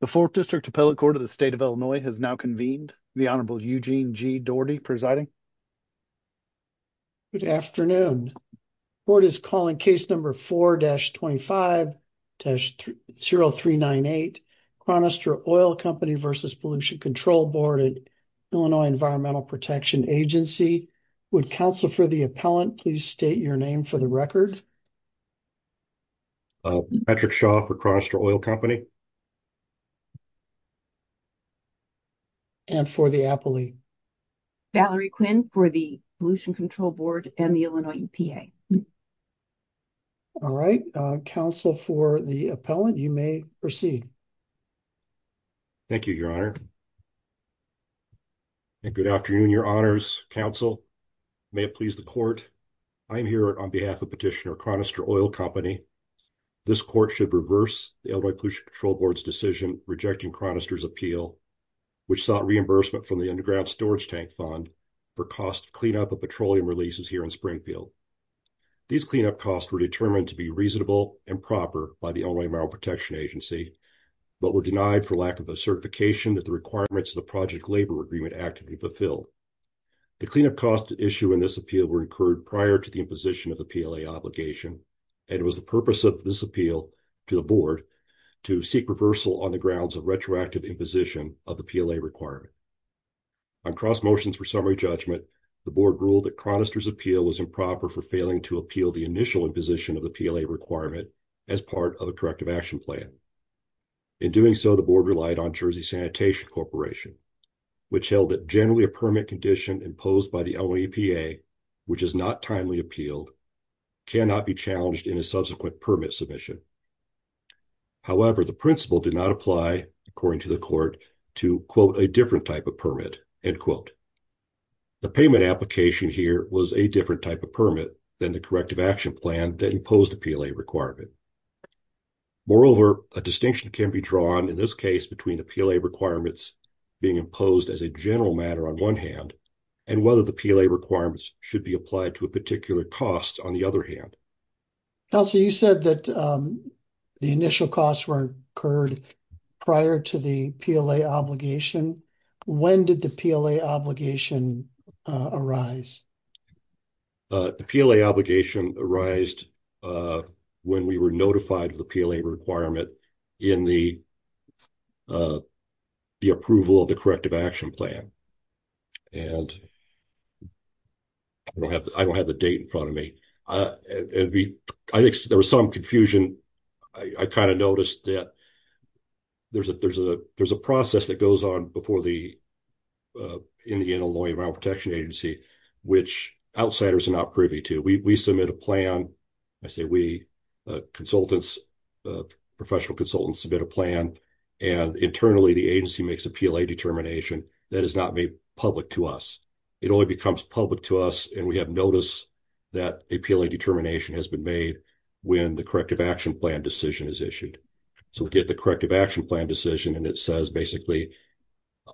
The 4th District Appellate Court of the State of Illinois has now convened. The Honorable Eugene G. Doherty presiding. Good afternoon. The board is calling case number 4-25-0398, Chronister Oil Company v. Pollution Control Board at Illinois Environmental Protection Agency. Would counsel for the appellant please state your name for the record? Patrick Shaw for Chronister Oil Company. And for the appellee? Valerie Quinn for the Pollution Control Board and the Illinois EPA. All right. Counsel for the appellant, you may proceed. Thank you, Your Honor. And good afternoon, Your Honors. Counsel, may it please the court. I'm here on behalf of Petitioner Chronister Oil Company. This court should reverse the Illinois Pollution Control Board's decision rejecting Chronister's appeal, which sought reimbursement from the Underground Storage Tank Fund for cost cleanup of petroleum releases here in Springfield. These cleanup costs were determined to be reasonable and proper by the certification that the requirements of the Project Labor Agreement actively fulfilled. The cleanup costs at issue in this appeal were incurred prior to the imposition of the PLA obligation, and it was the purpose of this appeal to the board to seek reversal on the grounds of retroactive imposition of the PLA requirement. On cross motions for summary judgment, the board ruled that Chronister's appeal was improper for failing to appeal the initial imposition of the PLA requirement as part of a corrective action plan. In doing so, the board relied on Jersey Sanitation Corporation, which held that generally a permit condition imposed by the OEPA, which is not timely appealed, cannot be challenged in a subsequent permit submission. However, the principle did not apply, according to the court, to, quote, a different type of permit, end quote. The payment application here was a different type of permit than the corrective plan that imposed the PLA requirement. Moreover, a distinction can be drawn in this case between the PLA requirements being imposed as a general matter on one hand and whether the PLA requirements should be applied to a particular cost on the other hand. Counselor, you said that the initial costs were incurred prior to the PLA obligation. When did the PLA obligation arise? The PLA obligation arised when we were notified of the PLA requirement in the approval of the corrective action plan. I don't have the date in front of me. I think there was some confusion. I kind of noticed that there's a process that goes on in the Illinois Environmental Protection Agency, which outsiders are not privy to. We submit a plan. I say we, consultants, professional consultants submit a plan, and internally the agency makes a PLA determination that is not made public to us. It only becomes public to us, and we have notice that a PLA determination has been made when the corrective action plan is issued. We get the corrective action plan decision, and it says basically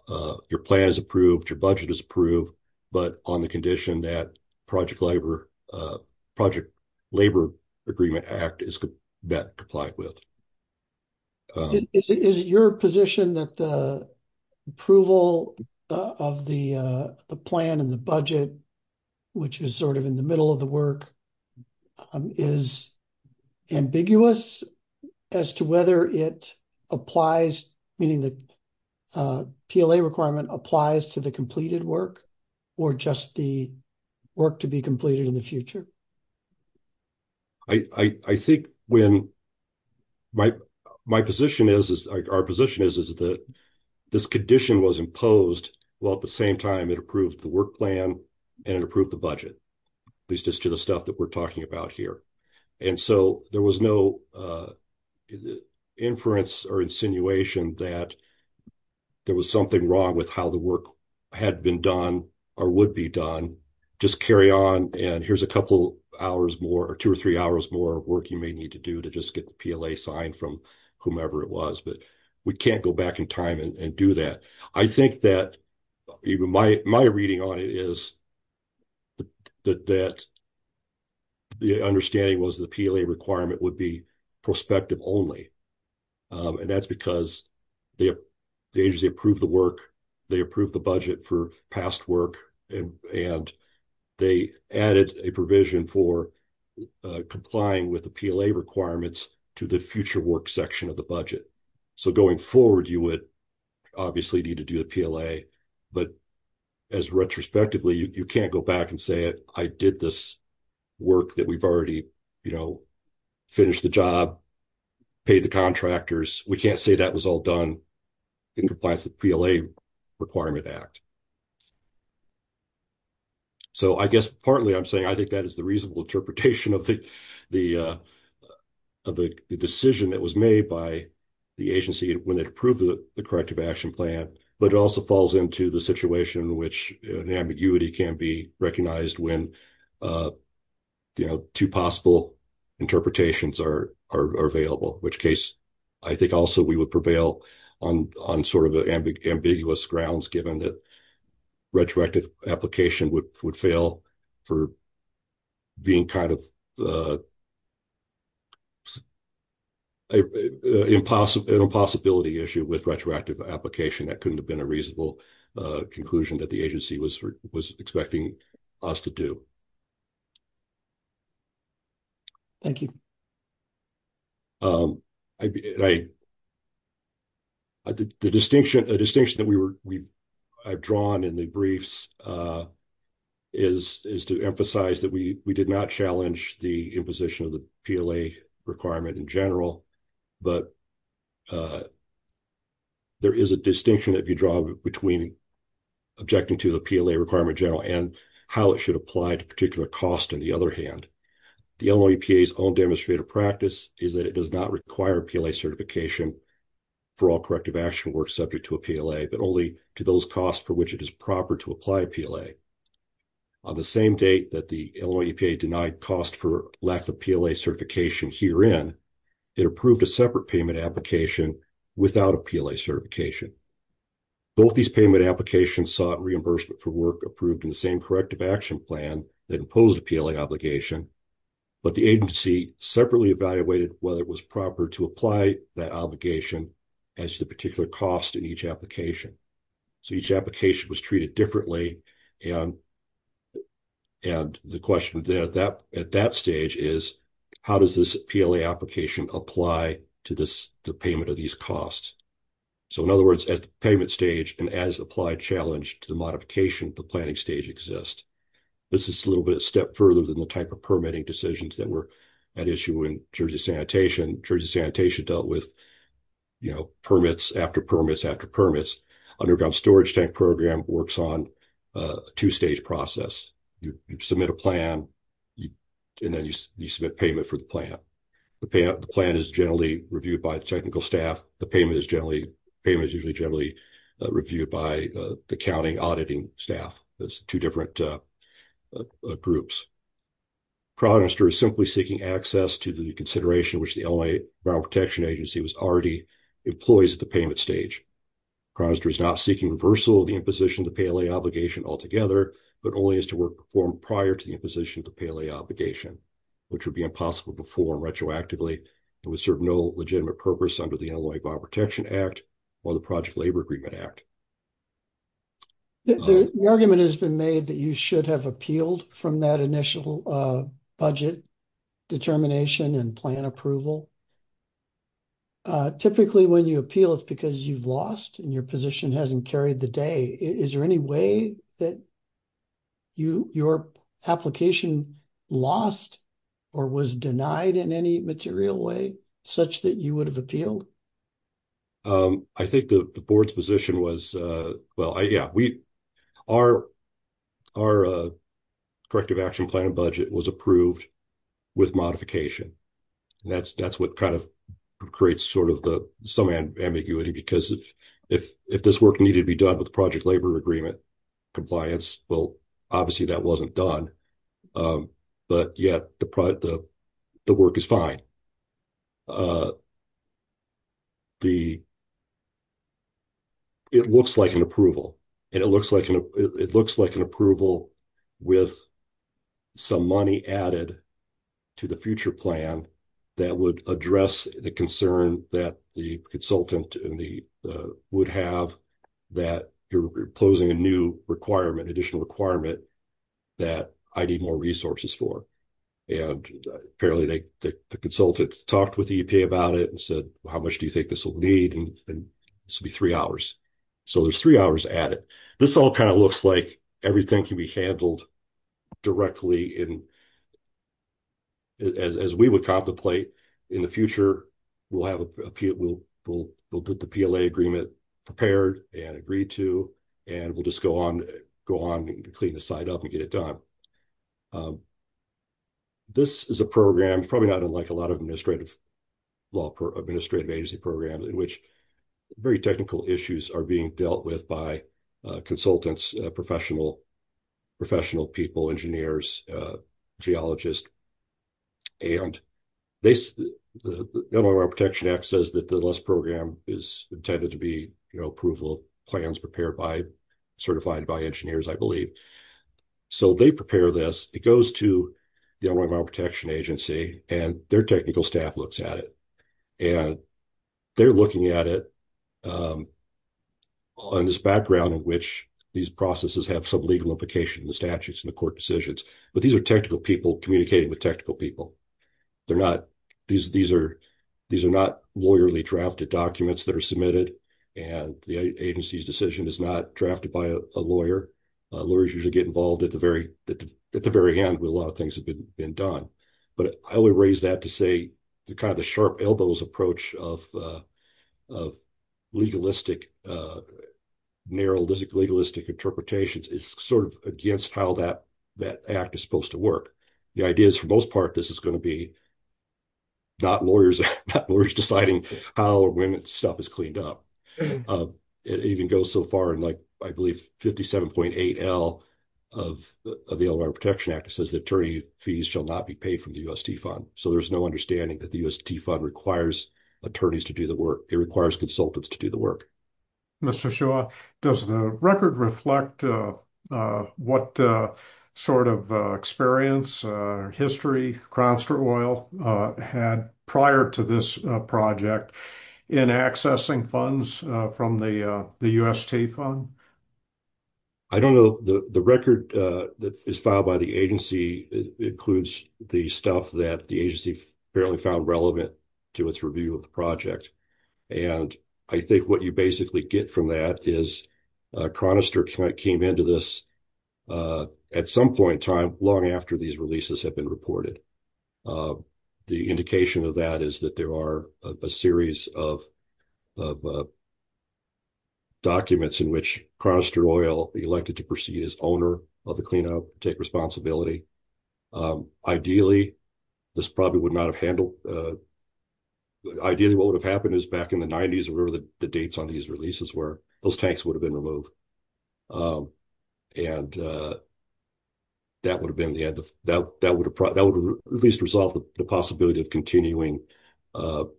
your plan is approved, your budget is approved, but on the condition that Project Labor Agreement Act is met and complied with. Is it your position that the approval of the plan and the budget, which is sort of in the middle of the work, is ambiguous as to whether it applies, meaning the PLA requirement applies to the completed work or just the work to be completed in the future? I think when my position is, our position is that this condition was imposed while at the same time it approved the work plan and it approved the work plan that we're talking about here. There was no inference or insinuation that there was something wrong with how the work had been done or would be done. Just carry on, and here's a couple hours more or two or three hours more work you may need to do to just get the PLA signed from whomever it was, but we can't go back in time and do that. I think that my reading on it is that the understanding was the PLA requirement would be prospective only, and that's because the agency approved the work, they approved the budget for past work, and they added a provision for complying with the PLA requirements to the future work section of the contract. Retrospectively, you can't go back and say, I did this work that we've already finished the job, paid the contractors. We can't say that was all done in compliance with the PLA Requirement Act. So, I guess partly I'm saying I think that is the reasonable interpretation of the decision that was made by the agency when it approved the corrective action plan, but it also falls into the situation in which an ambiguity can be recognized when two possible interpretations are available, in which case I think also we would prevail on sort of ambiguous grounds given that retroactive application would fail for being a possibility issue with retroactive application. That couldn't have been a reasonable conclusion that the agency was expecting us to do. Thank you. The distinction that I've drawn in the briefs is to emphasize that we did not challenge the imposition of the PLA requirement in general, but there is a distinction that can be drawn between objecting to the PLA requirement in general and how it should apply to a particular cost on the other hand. The Illinois EPA's own demonstrative practice is that it does not require PLA certification for all corrective action work subject to a PLA, but only to those costs for which it is proper to apply a PLA. On the same date that the Illinois EPA denied cost for lack of PLA certification herein, it approved a separate payment application without a PLA certification. Both these payment applications sought reimbursement for work approved in the corrective action plan that imposed a PLA obligation, but the agency separately evaluated whether it was proper to apply that obligation as to the particular cost in each application. So, each application was treated differently, and the question there at that stage is, how does this PLA application apply to the payment of these costs? So, in other words, as the payment stage and as applied challenge to the modification, the planning stage exists. This is a little bit of a step further than the type of permitting decisions that were at issue in Jersey Sanitation. Jersey Sanitation dealt with, you know, permits after permits after permits. Underground Storage Tank Program works on a two-stage process. You submit a plan, and then you submit payment for the plan. The plan is generally reviewed by technical staff. The payment is generally, payment is usually generally reviewed by the accounting auditing staff. There's two different groups. Chronister is simply seeking access to the consideration which the Illinois Environmental Protection Agency was already employees at the payment stage. Chronister is not seeking reversal of the imposition of the PLA obligation altogether, but only as to work performed prior to the imposition of the PLA obligation, which would impossible before retroactively. It would serve no legitimate purpose under the Illinois Bioprotection Act or the Project Labor Agreement Act. The argument has been made that you should have appealed from that initial budget determination and plan approval. Typically, when you appeal, it's because you've lost and your position hasn't carried the day. Is there any way that your application lost or was denied in any material way such that you would have appealed? I think the board's position was, well, yeah, our corrective action plan and budget was approved with modification. That's what kind of creates sort of the some ambiguity because if this work needed to be done with the Project Labor Agreement compliance, well, obviously that wasn't done, but yet the work is fine. It looks like an approval and it looks like an approval with some money added to the future plan that would address the concern that the consultant would have that you're imposing a new requirement, additional requirement, that I need more resources for. Apparently, the consultant talked with the EPA about it and said, well, how much do you think this will need? This will be three hours. So, there's three hours added. This all kind of looks like everything can be handled directly. As we would contemplate in the future, we'll get the PLA agreement prepared and agreed to and we'll just go on to clean the site up and get it done. This is a program, probably not unlike a lot of administrative agency programs, in which very technical issues are being dealt with by consultants, professional people, engineers, geologists, and the Environmental Protection Act says that this program is intended to be approval plans prepared by, certified by engineers, I believe. So, they prepare this. It goes to the Environmental Protection Agency and their technical staff looks at it and they're looking at it on this background in which these processes have some implications in the statutes and the court decisions. But these are technical people communicating with technical people. These are not lawyerly drafted documents that are submitted and the agency's decision is not drafted by a lawyer. Lawyers usually get involved at the very end when a lot of things have been done. But I would raise that to say, kind of the sharp elbows approach of legalistic, narrow legalistic interpretations is sort of against how that act is supposed to work. The idea is, for the most part, this is going to be not lawyers deciding how or when stuff is cleaned up. It even goes so far in, I believe, 57.8L of the Environmental Protection Act. It says the attorney fees shall not be paid from the UST fund. So, there's no understanding that the UST fund requires attorneys to do the work. It requires consultants to do the work. Mr. Shaw, does the record reflect what sort of experience, history Cranston Oil had prior to this project in accessing funds from the UST fund? I don't know. The record that is filed by the agency includes the stuff that the agency apparently found relevant to its review of the project. And I think what you basically get from that is Cronister came into this at some point in time, long after these releases have been reported. The indication of that is that there are a series of documents in which Cronister Oil, elected to proceed as owner of the cleanup, take responsibility. Ideally, this probably would not have handled... Ideally, what would have happened is back in the 90s, or whatever the dates on these releases were, those tanks would have been removed. And that would have been the end of... That would at least resolve the possibility of continuing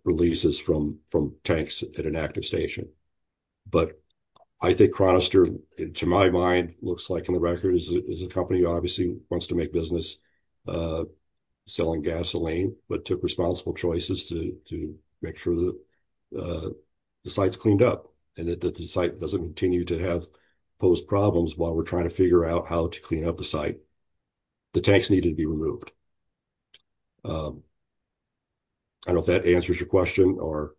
releases from tanks at an active station. But I think Cronister, to my mind, looks like in the record is a company who obviously wants to make business selling gasoline, but took responsible choices to make sure that the site's cleaned up and that the site doesn't continue to have post problems while we're trying to figure out how to clean up the site. The tanks needed to be removed. I don't know if that answers your question or...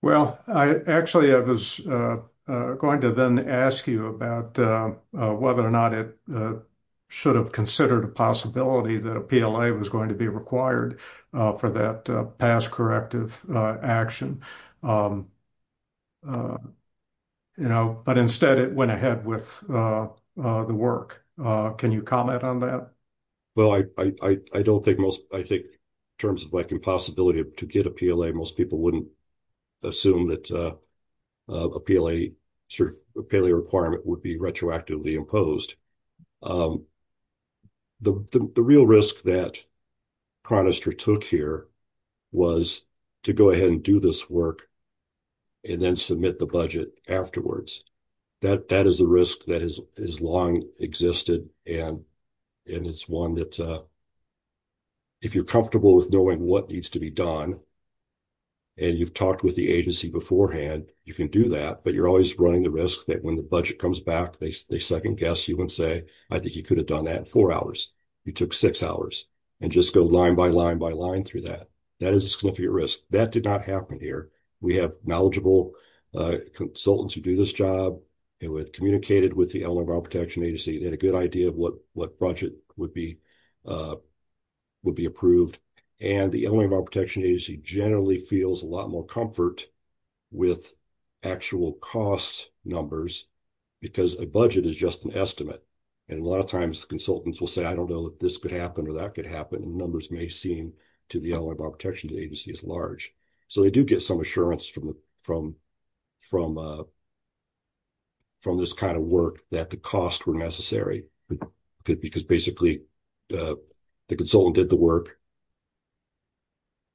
Well, actually, I was going to then ask you about whether or not it should have considered a possibility that a PLA was going to be required for that past corrective action. But instead, it went ahead with the work. Can you comment on that? Well, I don't think most... I think in terms of like impossibility to get a PLA, most people wouldn't assume that a PLA requirement would be retroactively imposed. But the real risk that Cronister took here was to go ahead and do this work and then submit the budget afterwards. That is a risk that has long existed, and it's one that if you're comfortable with knowing what needs to be done, and you've talked with the agency beforehand, you can do that. But you're always running the risk that when the budget comes back, they second-guess you and say, I think you could have done that in four hours. You took six hours and just go line by line by line through that. That is a significant risk. That did not happen here. We have knowledgeable consultants who do this job, who had communicated with the Environmental Protection Agency, they had a good idea of what budget would be approved. And the Environmental Protection Agency generally feels a lot more comfort with actual cost numbers, because a budget is just an estimate. And a lot of times, consultants will say, I don't know if this could happen or that could happen, and numbers may seem to the Environmental Protection Agency as large. So, they do get some assurance from this kind of work that the costs were necessary, because basically, the consultant did the work,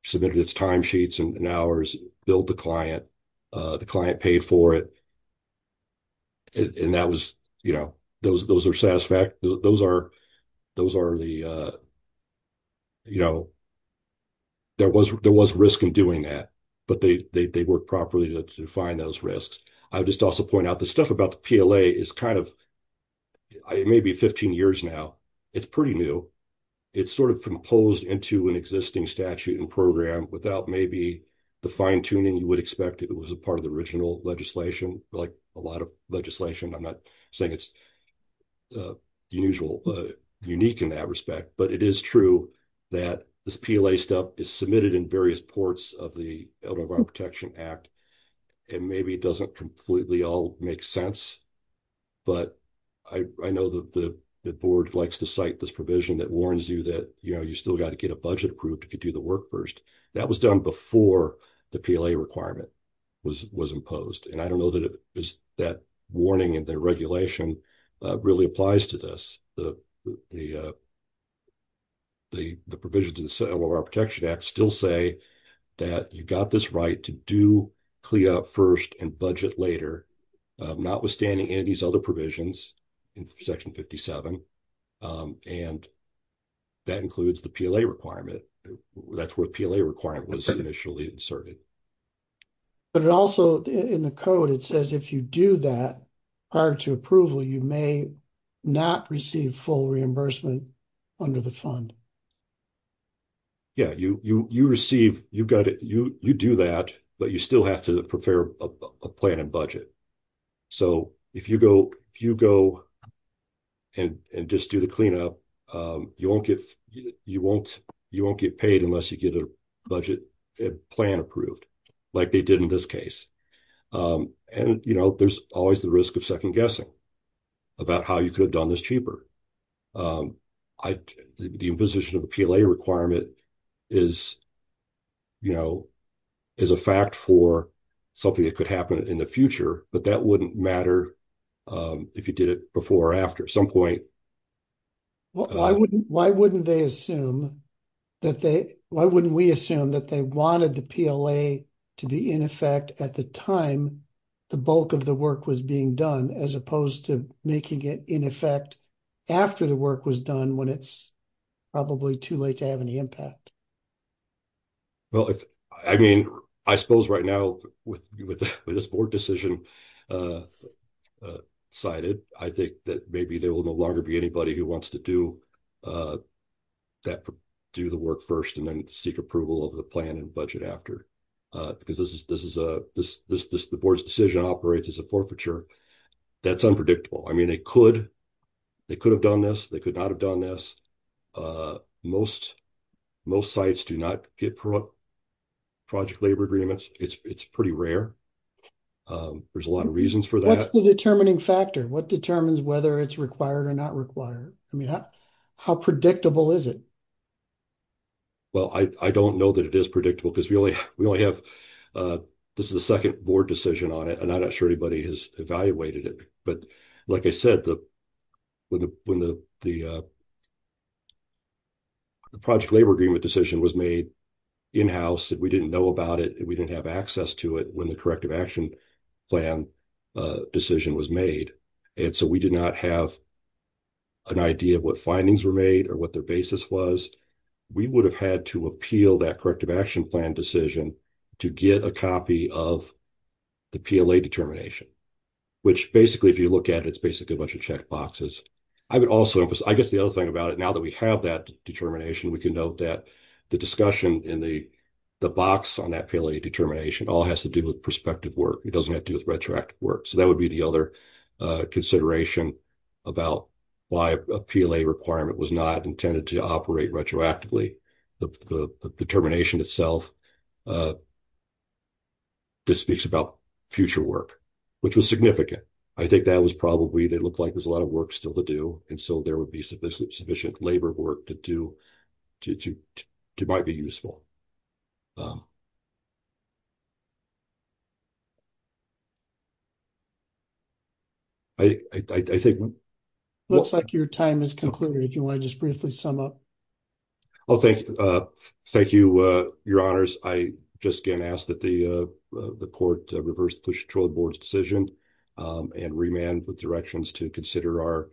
submitted its timesheets and hours, billed the client, the client paid for it. And that was, you know, those are satisfactory. Those are the, you know, there was risk in doing that, but they work properly to find those risks. I would just also point out the stuff about the PLA is kind of, it may be 15 years now, it's pretty new. It's sort of composed into an existing statute and program without maybe the fine tuning you would expect if it was a part of the original legislation, like a lot of legislation. I'm not saying it's unusual, unique in that respect, but it is true that this PLA is submitted in various ports of the Elevated Water Protection Act, and maybe it doesn't completely all make sense. But I know that the board likes to cite this provision that warns you that, you know, you still got to get a budget approved if you do the work first. That was done before the PLA requirement was imposed. And I don't know that that warning and the regulation really applies to this. The provisions of the Elevated Water Protection Act still say that you got this right to do CLEA first and budget later, notwithstanding any of these other provisions in Section 57. And that includes the PLA requirement. That's where the PLA requirement was initially inserted. But it also, in the code, it says if you do that prior to approval, you may not receive full reimbursement under the fund. Yeah, you receive, you do that, but you still have to prepare a plan and budget. So, if you go and just do the cleanup, you won't get paid unless you get a budget plan approved, like they did in this case. And, you know, there's always the risk of second-guessing about how you could have done this cheaper. The imposition of a PLA requirement is, you know, is a fact for something that could happen in the future, but that wouldn't matter if you did it before or after. At some point... Well, why wouldn't they assume that they, why wouldn't we assume that they wanted the PLA to be in effect at the time the bulk of the work was being done, as opposed to making it in effect after the work was done when it's probably too late to have any impact? Well, I mean, I suppose right now with this board decision decided, I think that maybe there will no longer be anybody who wants to do the work first and then seek approval of the plan and budget after, because the board's decision operates as a forfeiture. That's unpredictable. I mean, they could have done this, they could not have done this. Most sites do not get project labor agreements. It's pretty rare. There's a lot of reasons for that. What's the determining factor? What determines whether it's required or not required? I mean, how predictable is it? Well, I don't know that it is predictable, because we only have, this is the second board decision on it, and I'm not sure anybody has evaluated it, but like I said, when the project labor agreement decision was made, in-house, we didn't know about it, we didn't have access to it when the corrective action plan decision was made, and so we did not have an idea of what findings were made or what their basis was. We would have had to appeal that corrective action plan decision to get a copy of the PLA determination, which basically, if you look at it, it's basically a bunch of check boxes. I would also emphasize, I guess the other thing about it, now that we have that determination, we can note that the discussion in the box on that PLA determination all has to do with prospective work. It doesn't have to do with retroactive work, so that would be the other consideration about why a PLA requirement was not intended to operate retroactively. The determination itself speaks about future work, which was significant. I think that was probably, they looked like there's a lot of work still to do, and so there would be sufficient labor work to do that might be useful. Looks like your time has concluded. Do you want to just briefly sum up? Well, thank you, your honors. I just again ask that the court reverse the board's decision and remand with directions to consider our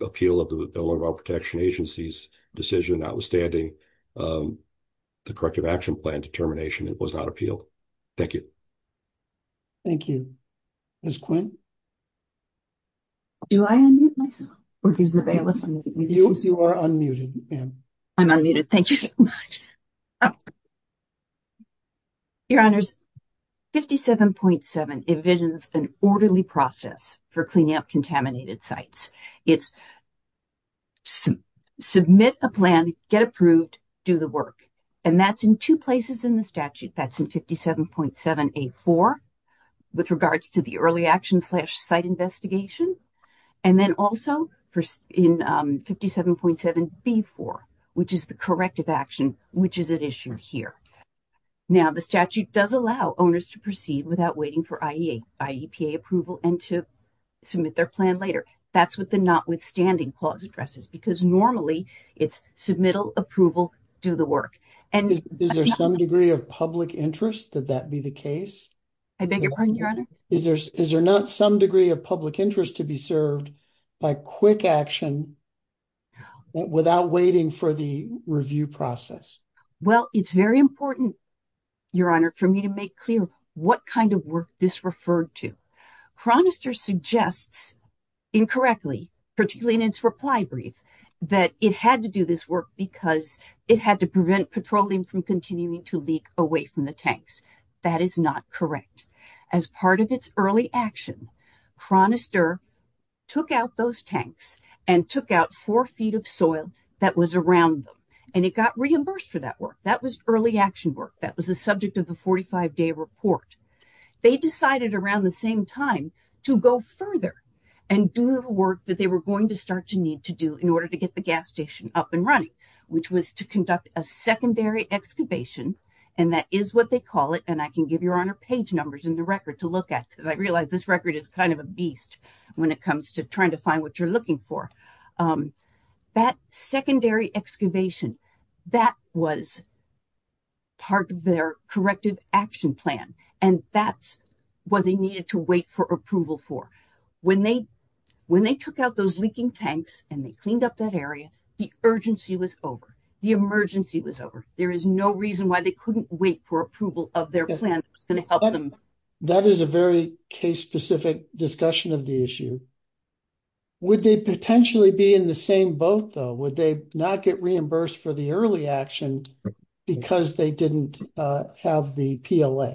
appeal of the overall protection agency's decision notwithstanding the corrective action plan determination. It was not appealed. Thank you. Thank you. Ms. Quinn? Do I unmute myself? You are unmuted. I'm unmuted. Thank you so much. Your honors, 57.7 envisions an orderly process for cleaning up contaminated sites. It's submit a plan, get approved, do the work, and that's in two places in the statute. That's in 57.7A.4 with regards to the early action slash site investigation, and then also in 57.7B.4, which is the corrective action, which is at issue here. Now, the statute does allow owners to proceed without waiting for IEPA approval and to submit their plan later. That's what the notwithstanding clause addresses because normally it's submittal, approval, do the work. Is there some degree of public interest that that be the case? I beg your pardon, your honor? Is there not some degree of public interest to be served by quick action without waiting for the review process? Well, it's very important, your honor, for me to make clear what kind of work this referred to. Chronister suggests incorrectly, particularly in its reply brief, that it had to do this work because it had to prevent petroleum from continuing to leak away from the tanks. That is not correct. As part of its early action, Chronister took out those tanks and took out four feet of soil that was around them, and it got reimbursed for that work. That was early action work. That was the subject of the 45-day report. They decided around the same time to go further and do the work that they were going to start to need to do in order to get the gas station up and I can give your honor page numbers in the record to look at because I realize this record is kind of a beast when it comes to trying to find what you're looking for. That secondary excavation, that was part of their corrective action plan, and that's what they needed to wait for approval for. When they took out those leaking tanks and they cleaned up that area, the urgency was over. The emergency was over. There is no reason why they couldn't wait for approval of their plan that was going to help them. That is a very case-specific discussion of the issue. Would they potentially be in the same boat, though? Would they not get reimbursed for the early action because they didn't have the PLA?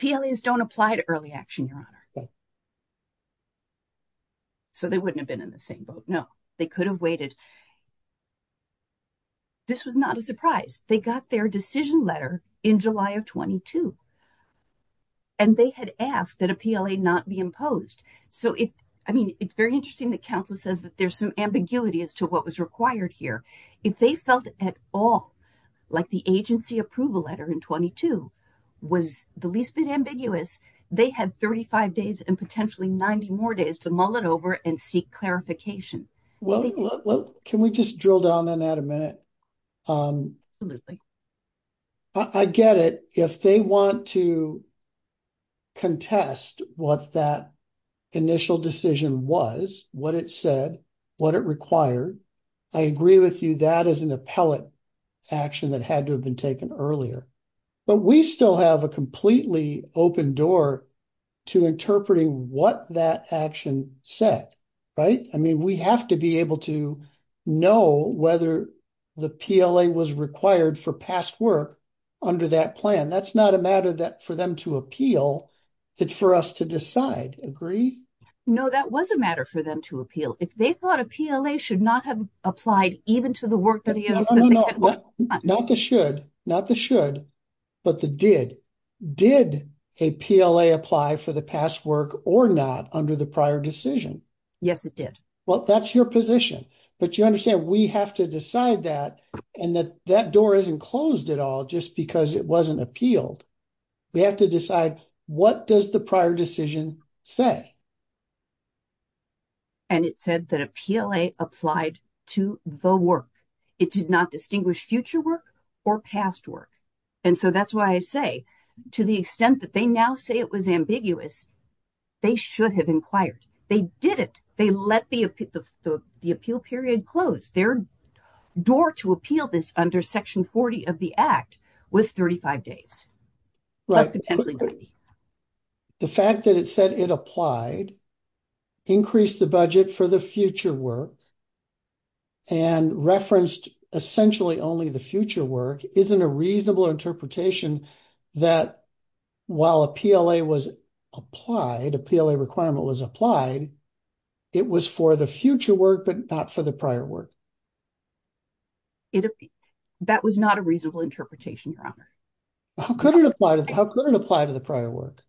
PLAs don't apply to early action, your honor. So they wouldn't have been in the same boat. No, they could have waited. This was not a surprise. They got their decision letter in July of 22, and they had asked that a PLA not be imposed. So it's very interesting that council says that there's some ambiguity as to what was required here. If they felt at all like the agency approval letter in 22 was the least bit ambiguous, they had 35 days and potentially 90 more days to mull it over and seek clarification. Can we just drill down on that a minute? Absolutely. I get it. If they want to contest what that initial decision was, what it said, what it required, I agree with you that is an appellate action that had to have been taken earlier. But we still have a completely open door to interpreting what that action said, right? I mean, we have to be able to know whether the PLA was required for past work under that plan. That's not a matter for them to appeal. It's for us to decide. Agree? No, that was a matter for them to appeal. If they thought a PLA should not have applied even to the work that they had worked on. No, not the should, but the did. Did a PLA apply for the past work or not under the prior decision? Yes, it did. Well, that's your position. But you understand we have to decide that, and that that door isn't closed at all just because it wasn't appealed. We have to decide what does the prior decision say? And it said that a PLA applied to the work. It did not distinguish future work or past work. And so that's why I say to the extent that they now say it was ambiguous, they should have inquired. They did it. They let the appeal period close. Their door to appeal this under Section 40 of the Act was 35 days, plus potentially 90. The fact that it said it applied increased the budget for the future work and referenced essentially only the future work isn't a reasonable interpretation that while a PLA was applied, a PLA requirement was applied, it was for the future work but not for the prior work. That was not a reasonable interpretation, Your Honor. How could it apply to the prior work?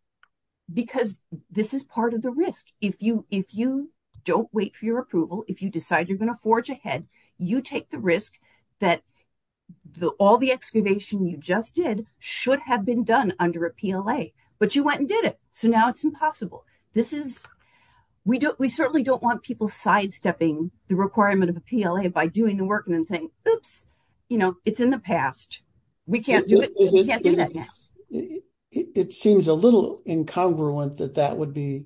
Because this is part of the risk. If you don't wait for your approval, if you decide you're going to forge ahead, you take the risk that all the excavation you just did should have been done under a PLA. But you went and did it, so now it's impossible. We certainly don't want people sidestepping the requirement of a PLA by doing the work and then saying, oops, it's in the past. We can't do that now. It seems a little incongruent that that would be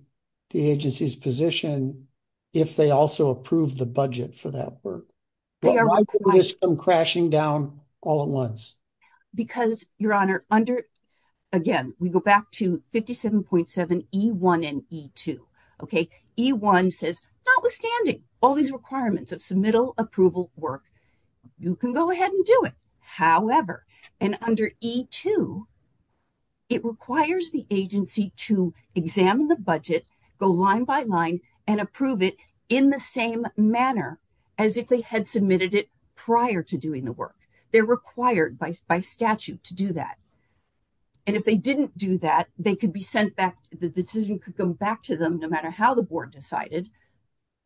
the agency's position if they also approved the budget for that work. Why could this come crashing down all at once? Because, Your Honor, again, we go back to 57.7E1 and E2. E1 says, notwithstanding all these requirements of submittal approval work, you can go ahead and do it. However, under E2, it requires the agency to examine the budget, go line by line, and approve it in the same manner as if they had submitted it prior to doing the work. They're required by statute to do that. If they didn't do that, they could be sent back, the decision could come back to them, no matter how the board decided,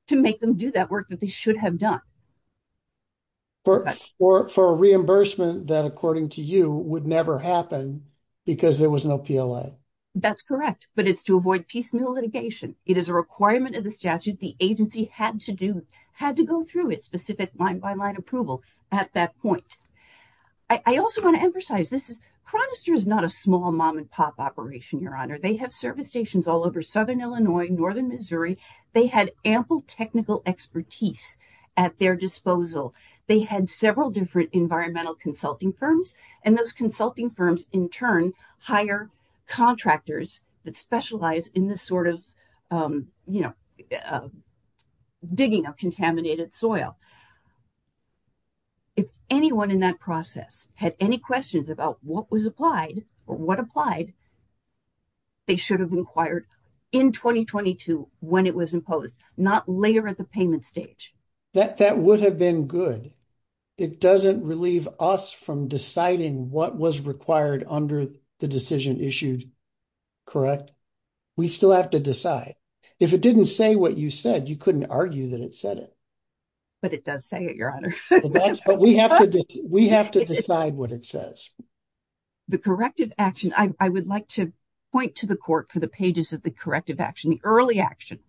to make them do that work that they should have done. For a reimbursement that, according to you, would never happen because there was no PLA. That's correct, but it's to avoid piecemeal litigation. It is a requirement of the statute the agency had to do, had to go through its specific line by line approval at that point. I also want to emphasize this. Chronister is not a small mom and pop operation, they have service stations all over southern Illinois, northern Missouri. They had ample technical expertise at their disposal. They had several different environmental consulting firms, and those consulting firms, in turn, hire contractors that specialize in digging up contaminated soil. If anyone in that process had any questions about what was applied or what was not applied, they should have inquired in 2022 when it was imposed, not later at the payment stage. That would have been good. It doesn't relieve us from deciding what was required under the decision issued, correct? We still have to decide. If it didn't say what you said, you couldn't argue that it said it. But it does say it, your honor. We have to decide what it says. The corrective action, I would like to point to the court for the pages of the corrective action, the early action,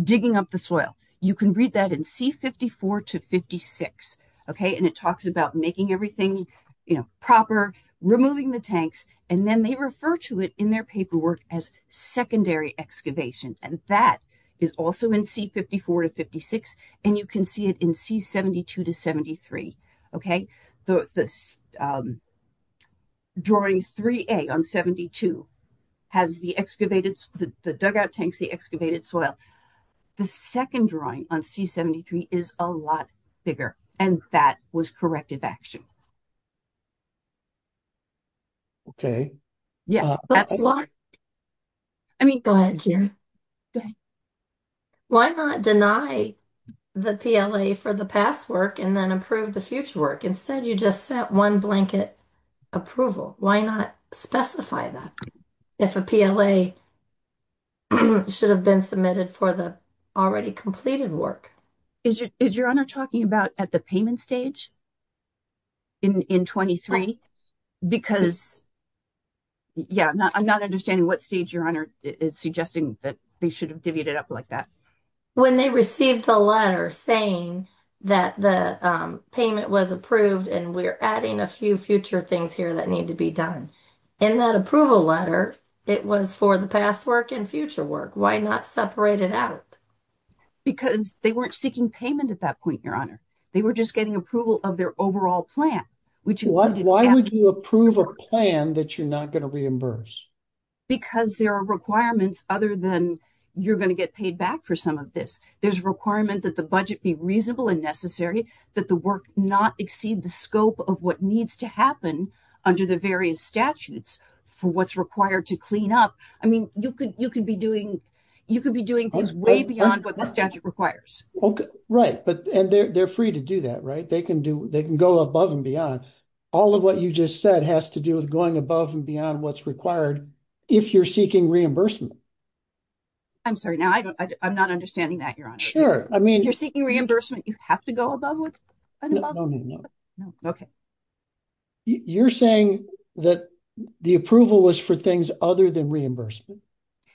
digging up the soil. You can read that in C-54 to 56, okay, and it talks about making everything, you know, proper, removing the tanks, and then they refer to it in their paperwork as secondary excavation, and that is also in C-54 to 56, and you can see it in C-72 to 73, okay. The drawing 3A on 72 has the excavated, the dugout tanks, the excavated soil. The second drawing on C-73 is a lot bigger, and that was corrective action. Okay. Yeah. I mean, go ahead, Jerry. Go ahead. Why not deny the PLA for the past work and then approve the future work? Instead, you just set one blanket approval. Why not specify that if a PLA should have been submitted for the already completed work? Is your honor talking about at the payment stage in 23? Because, yeah, I'm not understanding what stage your honor is suggesting that they should have divvied it up like that. When they received the letter saying that the payment was approved and we're adding a few future things here that need to be done. In that approval letter, it was for the past work and future work. Why not separate it out? Because they weren't seeking payment at that point, your honor. They were just getting approval of their overall plan. Why would you approve a plan that you're not going to reimburse? Because there are requirements other than you're going to get paid back for some of this. There's a requirement that the budget be reasonable and necessary, that the work not exceed the scope of what needs to happen under the various statutes for what's required to clean up. I mean, you can you could be doing things way beyond what the statute requires. Okay, right. But they're free to do that, right? They can go above and beyond. All of what you just said has to do with going above and beyond what's required if you're seeking reimbursement. I'm sorry. Now, I'm not understanding that, your honor. Sure. I mean, you're seeking reimbursement. You have to go above and above. No, no, no. Okay. You're saying that the approval was for things other than reimbursement.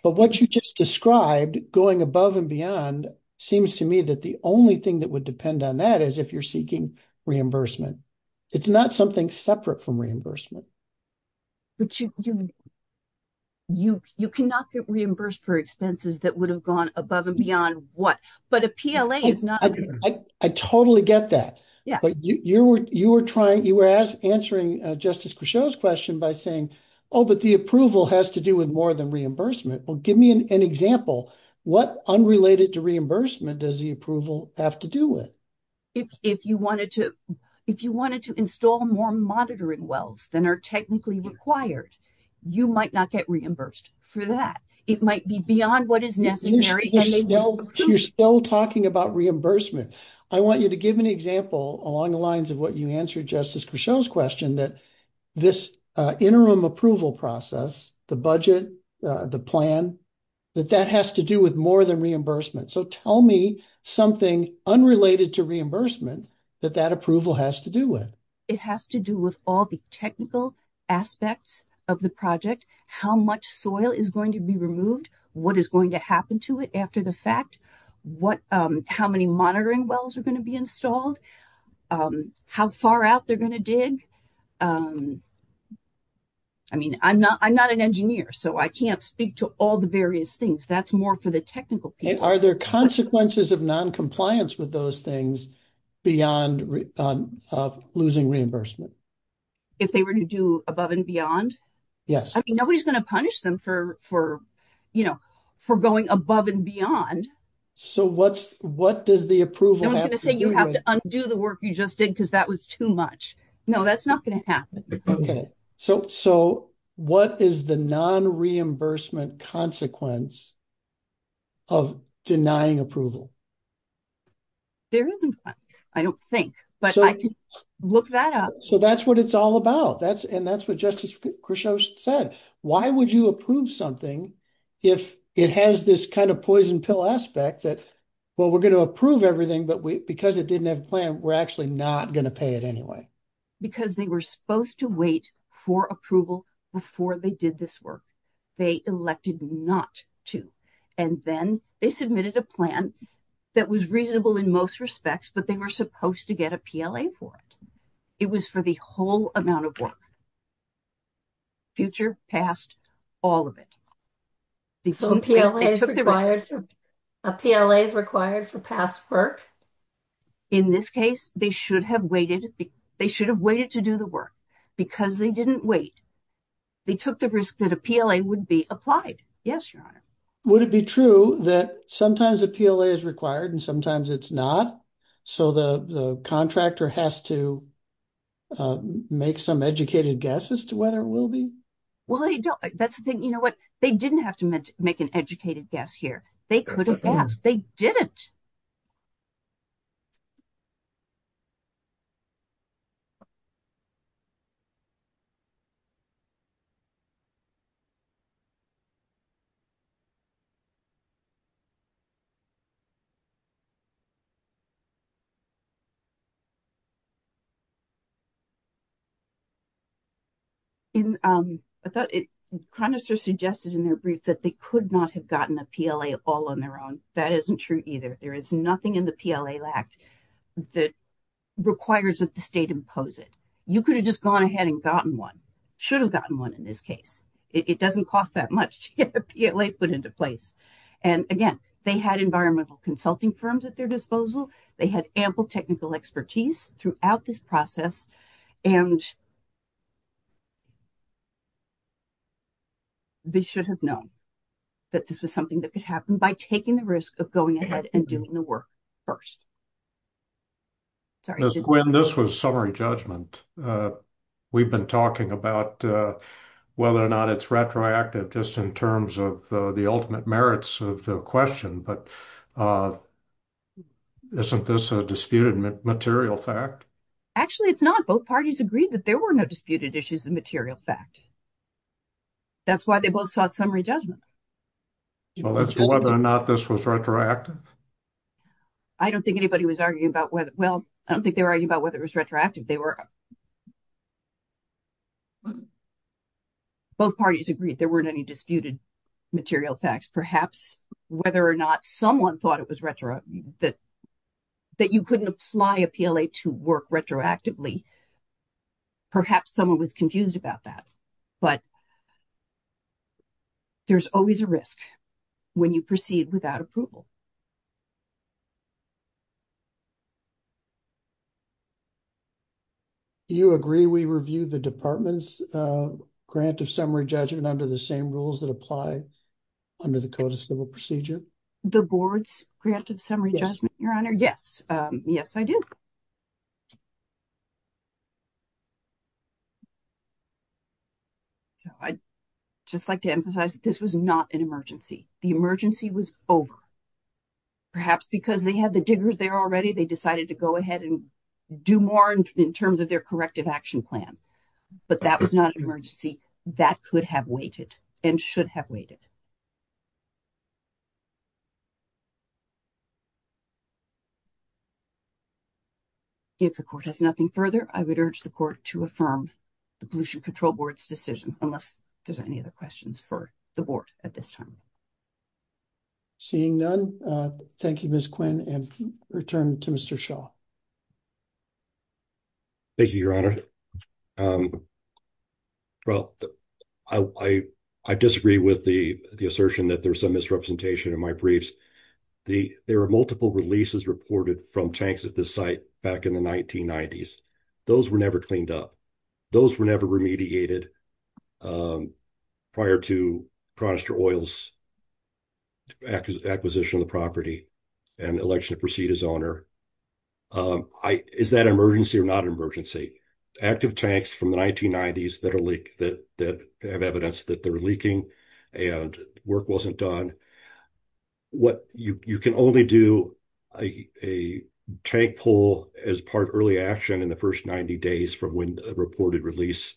But what you just described, going above and beyond, seems to me that the only thing that would depend on that is if you're seeking reimbursement. It's not something separate from reimbursement. But you cannot get reimbursed for expenses that would have gone above and beyond what. But a PLA is not. I totally get that. Yeah. But you were trying, you were answering Justice Cruchot's question by saying, oh, but the approval has to do with more than reimbursement. Well, give me an example. What unrelated to reimbursement does the approval have to do with? If you wanted to install more monitoring wells than are technically required, you might not get reimbursed for that. It might be beyond what is necessary. You're still talking about reimbursement. I want you to give an example along the lines of what you answered Justice Cruchot's question, that this interim approval process, the budget, the plan, that that has to do with more than reimbursement. So tell me something unrelated to reimbursement that that approval has to do with. It has to do with all the technical aspects of the project. How much soil is going to be removed? What is going to happen to it after the fact? How many monitoring wells are going to be installed? How far out they're going to dig? I mean, I'm not an engineer, so I can't speak to all the various things. That's more for the technical people. Are there consequences of non-compliance with those things beyond losing reimbursement? If they were to do above and beyond? Yes. I mean, nobody's going to punish them for going above and beyond. So what does the approval have to do with? No one's going to say you have to undo the work you just did because that was too much. No, that's not going to happen. Okay. So what is the non-reimbursement consequence of denying approval? There isn't one, I don't think, but I can look that up. So that's what it's all about. And that's what Justice Kershaw said. Why would you approve something if it has this kind of poison pill aspect that, well, we're going to approve everything, but because it didn't have a plan, we're actually not going to pay it anyway. Because they were supposed to wait for approval before they did this work. They elected not to. And then they submitted a plan that was reasonable in most respects, but they were supposed to get a PLA for it. It was for the whole amount of work. Future, past, all of it. So a PLA is required for past work? In this case, they should have waited. They should have waited to do the work because they didn't wait. They took the risk that a PLA would be applied. Yes, Your Honor. Would it be true that sometimes a PLA is required and sometimes it's not? So the contractor has to make some educated guess as to whether it will be? Well, they don't. That's the thing. You know what? They didn't have to make an educated guess here. They could have asked. They didn't. I thought it kind of suggested in their brief that they could not have gotten a PLA all on their own. That isn't true either. There is nothing in the PLA that requires that the state impose it. You could have just gone ahead and gotten one. Should have gotten one in this case. It doesn't cost that much to get a PLA put into place. And again, they had environmental consulting firms at their disposal. They had ample technical expertise throughout this process. And they should have known that this was something that could happen by taking the risk of going ahead and doing the work first. Sorry. Gwen, this was summary judgment. We've been talking about whether or not it's retroactive just in terms of the ultimate merits of the question. But isn't this a disputed material fact? Actually, it's not. Both parties agreed that there were no disputed issues of material fact. That's why they both sought summary judgment. Well, that's whether or not this was retroactive. I don't think anybody was arguing about whether. Well, I don't think they were arguing about it was retroactive. Both parties agreed there weren't any disputed material facts. Perhaps whether or not someone thought it was retroactive that you couldn't apply a PLA to work retroactively. Perhaps someone was confused about that. But there's always a risk when you proceed without approval. You agree we review the department's grant of summary judgment under the same rules that apply under the Code of Civil Procedure? The board's grant of summary judgment, Your Honor? Yes. Yes, I do. So I'd just like to emphasize that this was not an emergency. The emergency was over. Perhaps because they had the diggers there already, they decided to go ahead and do more in terms of their corrective action plan. But that was not an emergency. That could have waited and should have waited. If the court has nothing further, I would urge the court to affirm the Pollution Control Board's decision, unless there's any other questions for the board at this time. Seeing none, thank you, Ms. Quinn. And return to Mr. Shaw. Thank you, Your Honor. Well, I disagree with the assertion that there's some misrepresentation in my briefs. There are multiple releases reported from tanks at this site back in the 1990s. Those were never cleaned up. Those were never remediated prior to Chronister Oil's acquisition of the property and the election to proceed as owner. Is that an emergency or not an emergency? Active tanks from the 1990s that have evidence that they're leaking and work wasn't done, you can only do a tank pull as part of early action in the first 90 days from when a reported release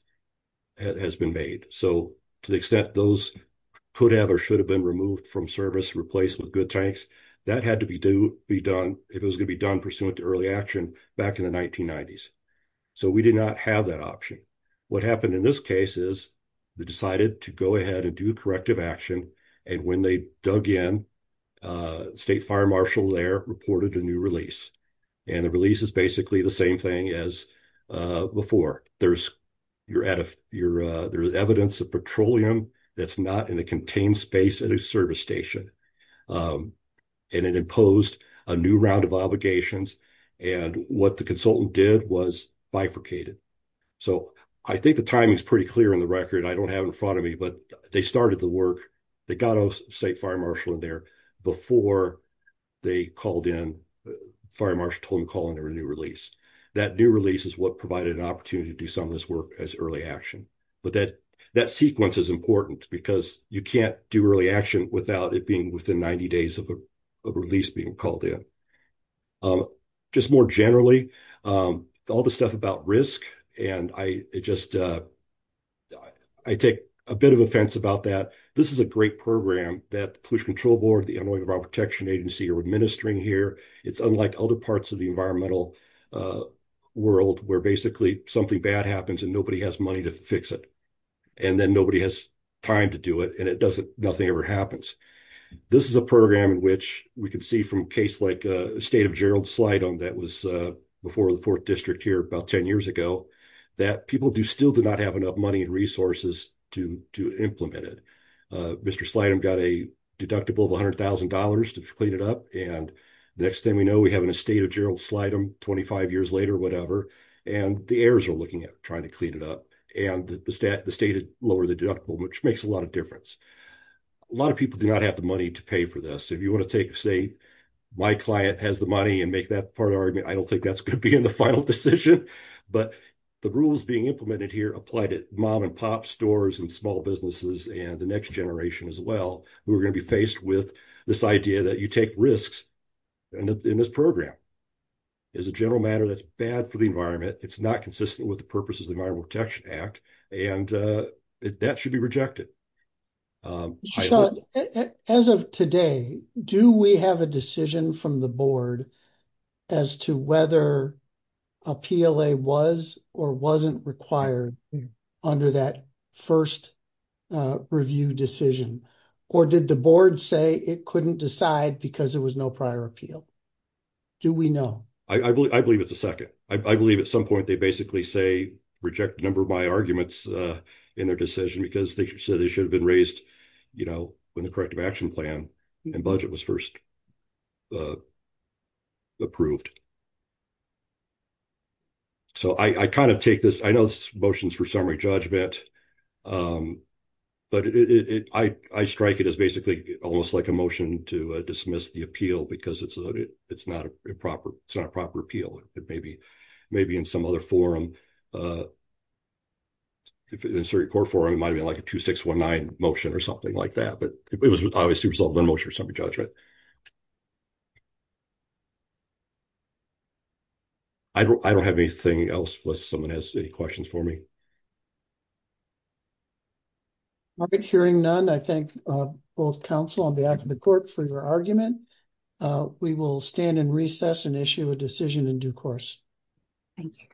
has been made. So to the extent those could have or should have been removed from service, replaced with good tanks, that had to be done if it was going to be done pursuant to early action back in the 1990s. So we did not have that option. What happened in this case is they decided to go ahead and do corrective action, and when they dug in, the state fire marshal there reported a new release. And the release is basically the same thing as before. There's evidence of petroleum that's not in a contained space at a service station. And it imposed a new round of obligations. And what the consultant did was bifurcated. So I think the timing is pretty clear in the record. I don't have in front of me, but they started the work. They got a state fire marshal in there before they called in. Fire marshal told him to call in a new release. That new release is what provided an opportunity to do some of this work as early action. But that sequence is important because you can't do early action without it being within 90 days of a release being called in. Just more generally, all the stuff about risk, and I take a bit of offense about that. This is a great program that the Pollution Control Board, the Illinois Environmental Protection Agency are administering here. It's unlike other parts of the environmental world where basically something bad happens and nobody has money to fix it. And then nobody has time to do it, and nothing ever happens. This is a program in which we can see from a case like the state of Gerald Slydom that was before the 4th District here about 10 years ago, that people still do not have enough money and resources to implement it. Mr. Slydom got a deductible of $100,000 to clean it up. And the next thing we know, we have an estate of Gerald Slydom 25 years later or whatever, and the heirs are looking at trying to clean it up. And the state had lowered the deductible, which makes a lot of difference. A lot of people do not have the money to pay for this. If you want to take, say, my client has the money and make that part of the argument, I don't think that's going to be in the final decision. But the rules being implemented here apply to mom and pop stores and small businesses and the next generation as well, who are going to be faced with this idea that you take risks in this program. As a general matter, that's bad for the environment. It's not consistent with the purposes of the Environmental Protection Act, and that should be rejected. As of today, do we have a decision from the board as to whether a PLA was or wasn't required under that first review decision? Or did the board say it couldn't decide because there was no prior appeal? Do we know? I believe it's a second. I believe at some point they basically say reject a number of my arguments in their decision because they said they should have been raised when the corrective action plan and budget was first approved. So I kind of take this. I know this is motions for summary judgment, but I strike it as basically almost like a motion to dismiss the appeal because it's not a proper appeal. It may be in some other forum. If it's a court forum, it might be like a 2619 motion or something like that, but it was obviously resolved in motion for summary judgment. I don't have anything else unless someone has any questions for me. All right, hearing none, I thank both counsel on behalf of the court for your argument. We will stand and recess and issue a decision in due course. Thank you.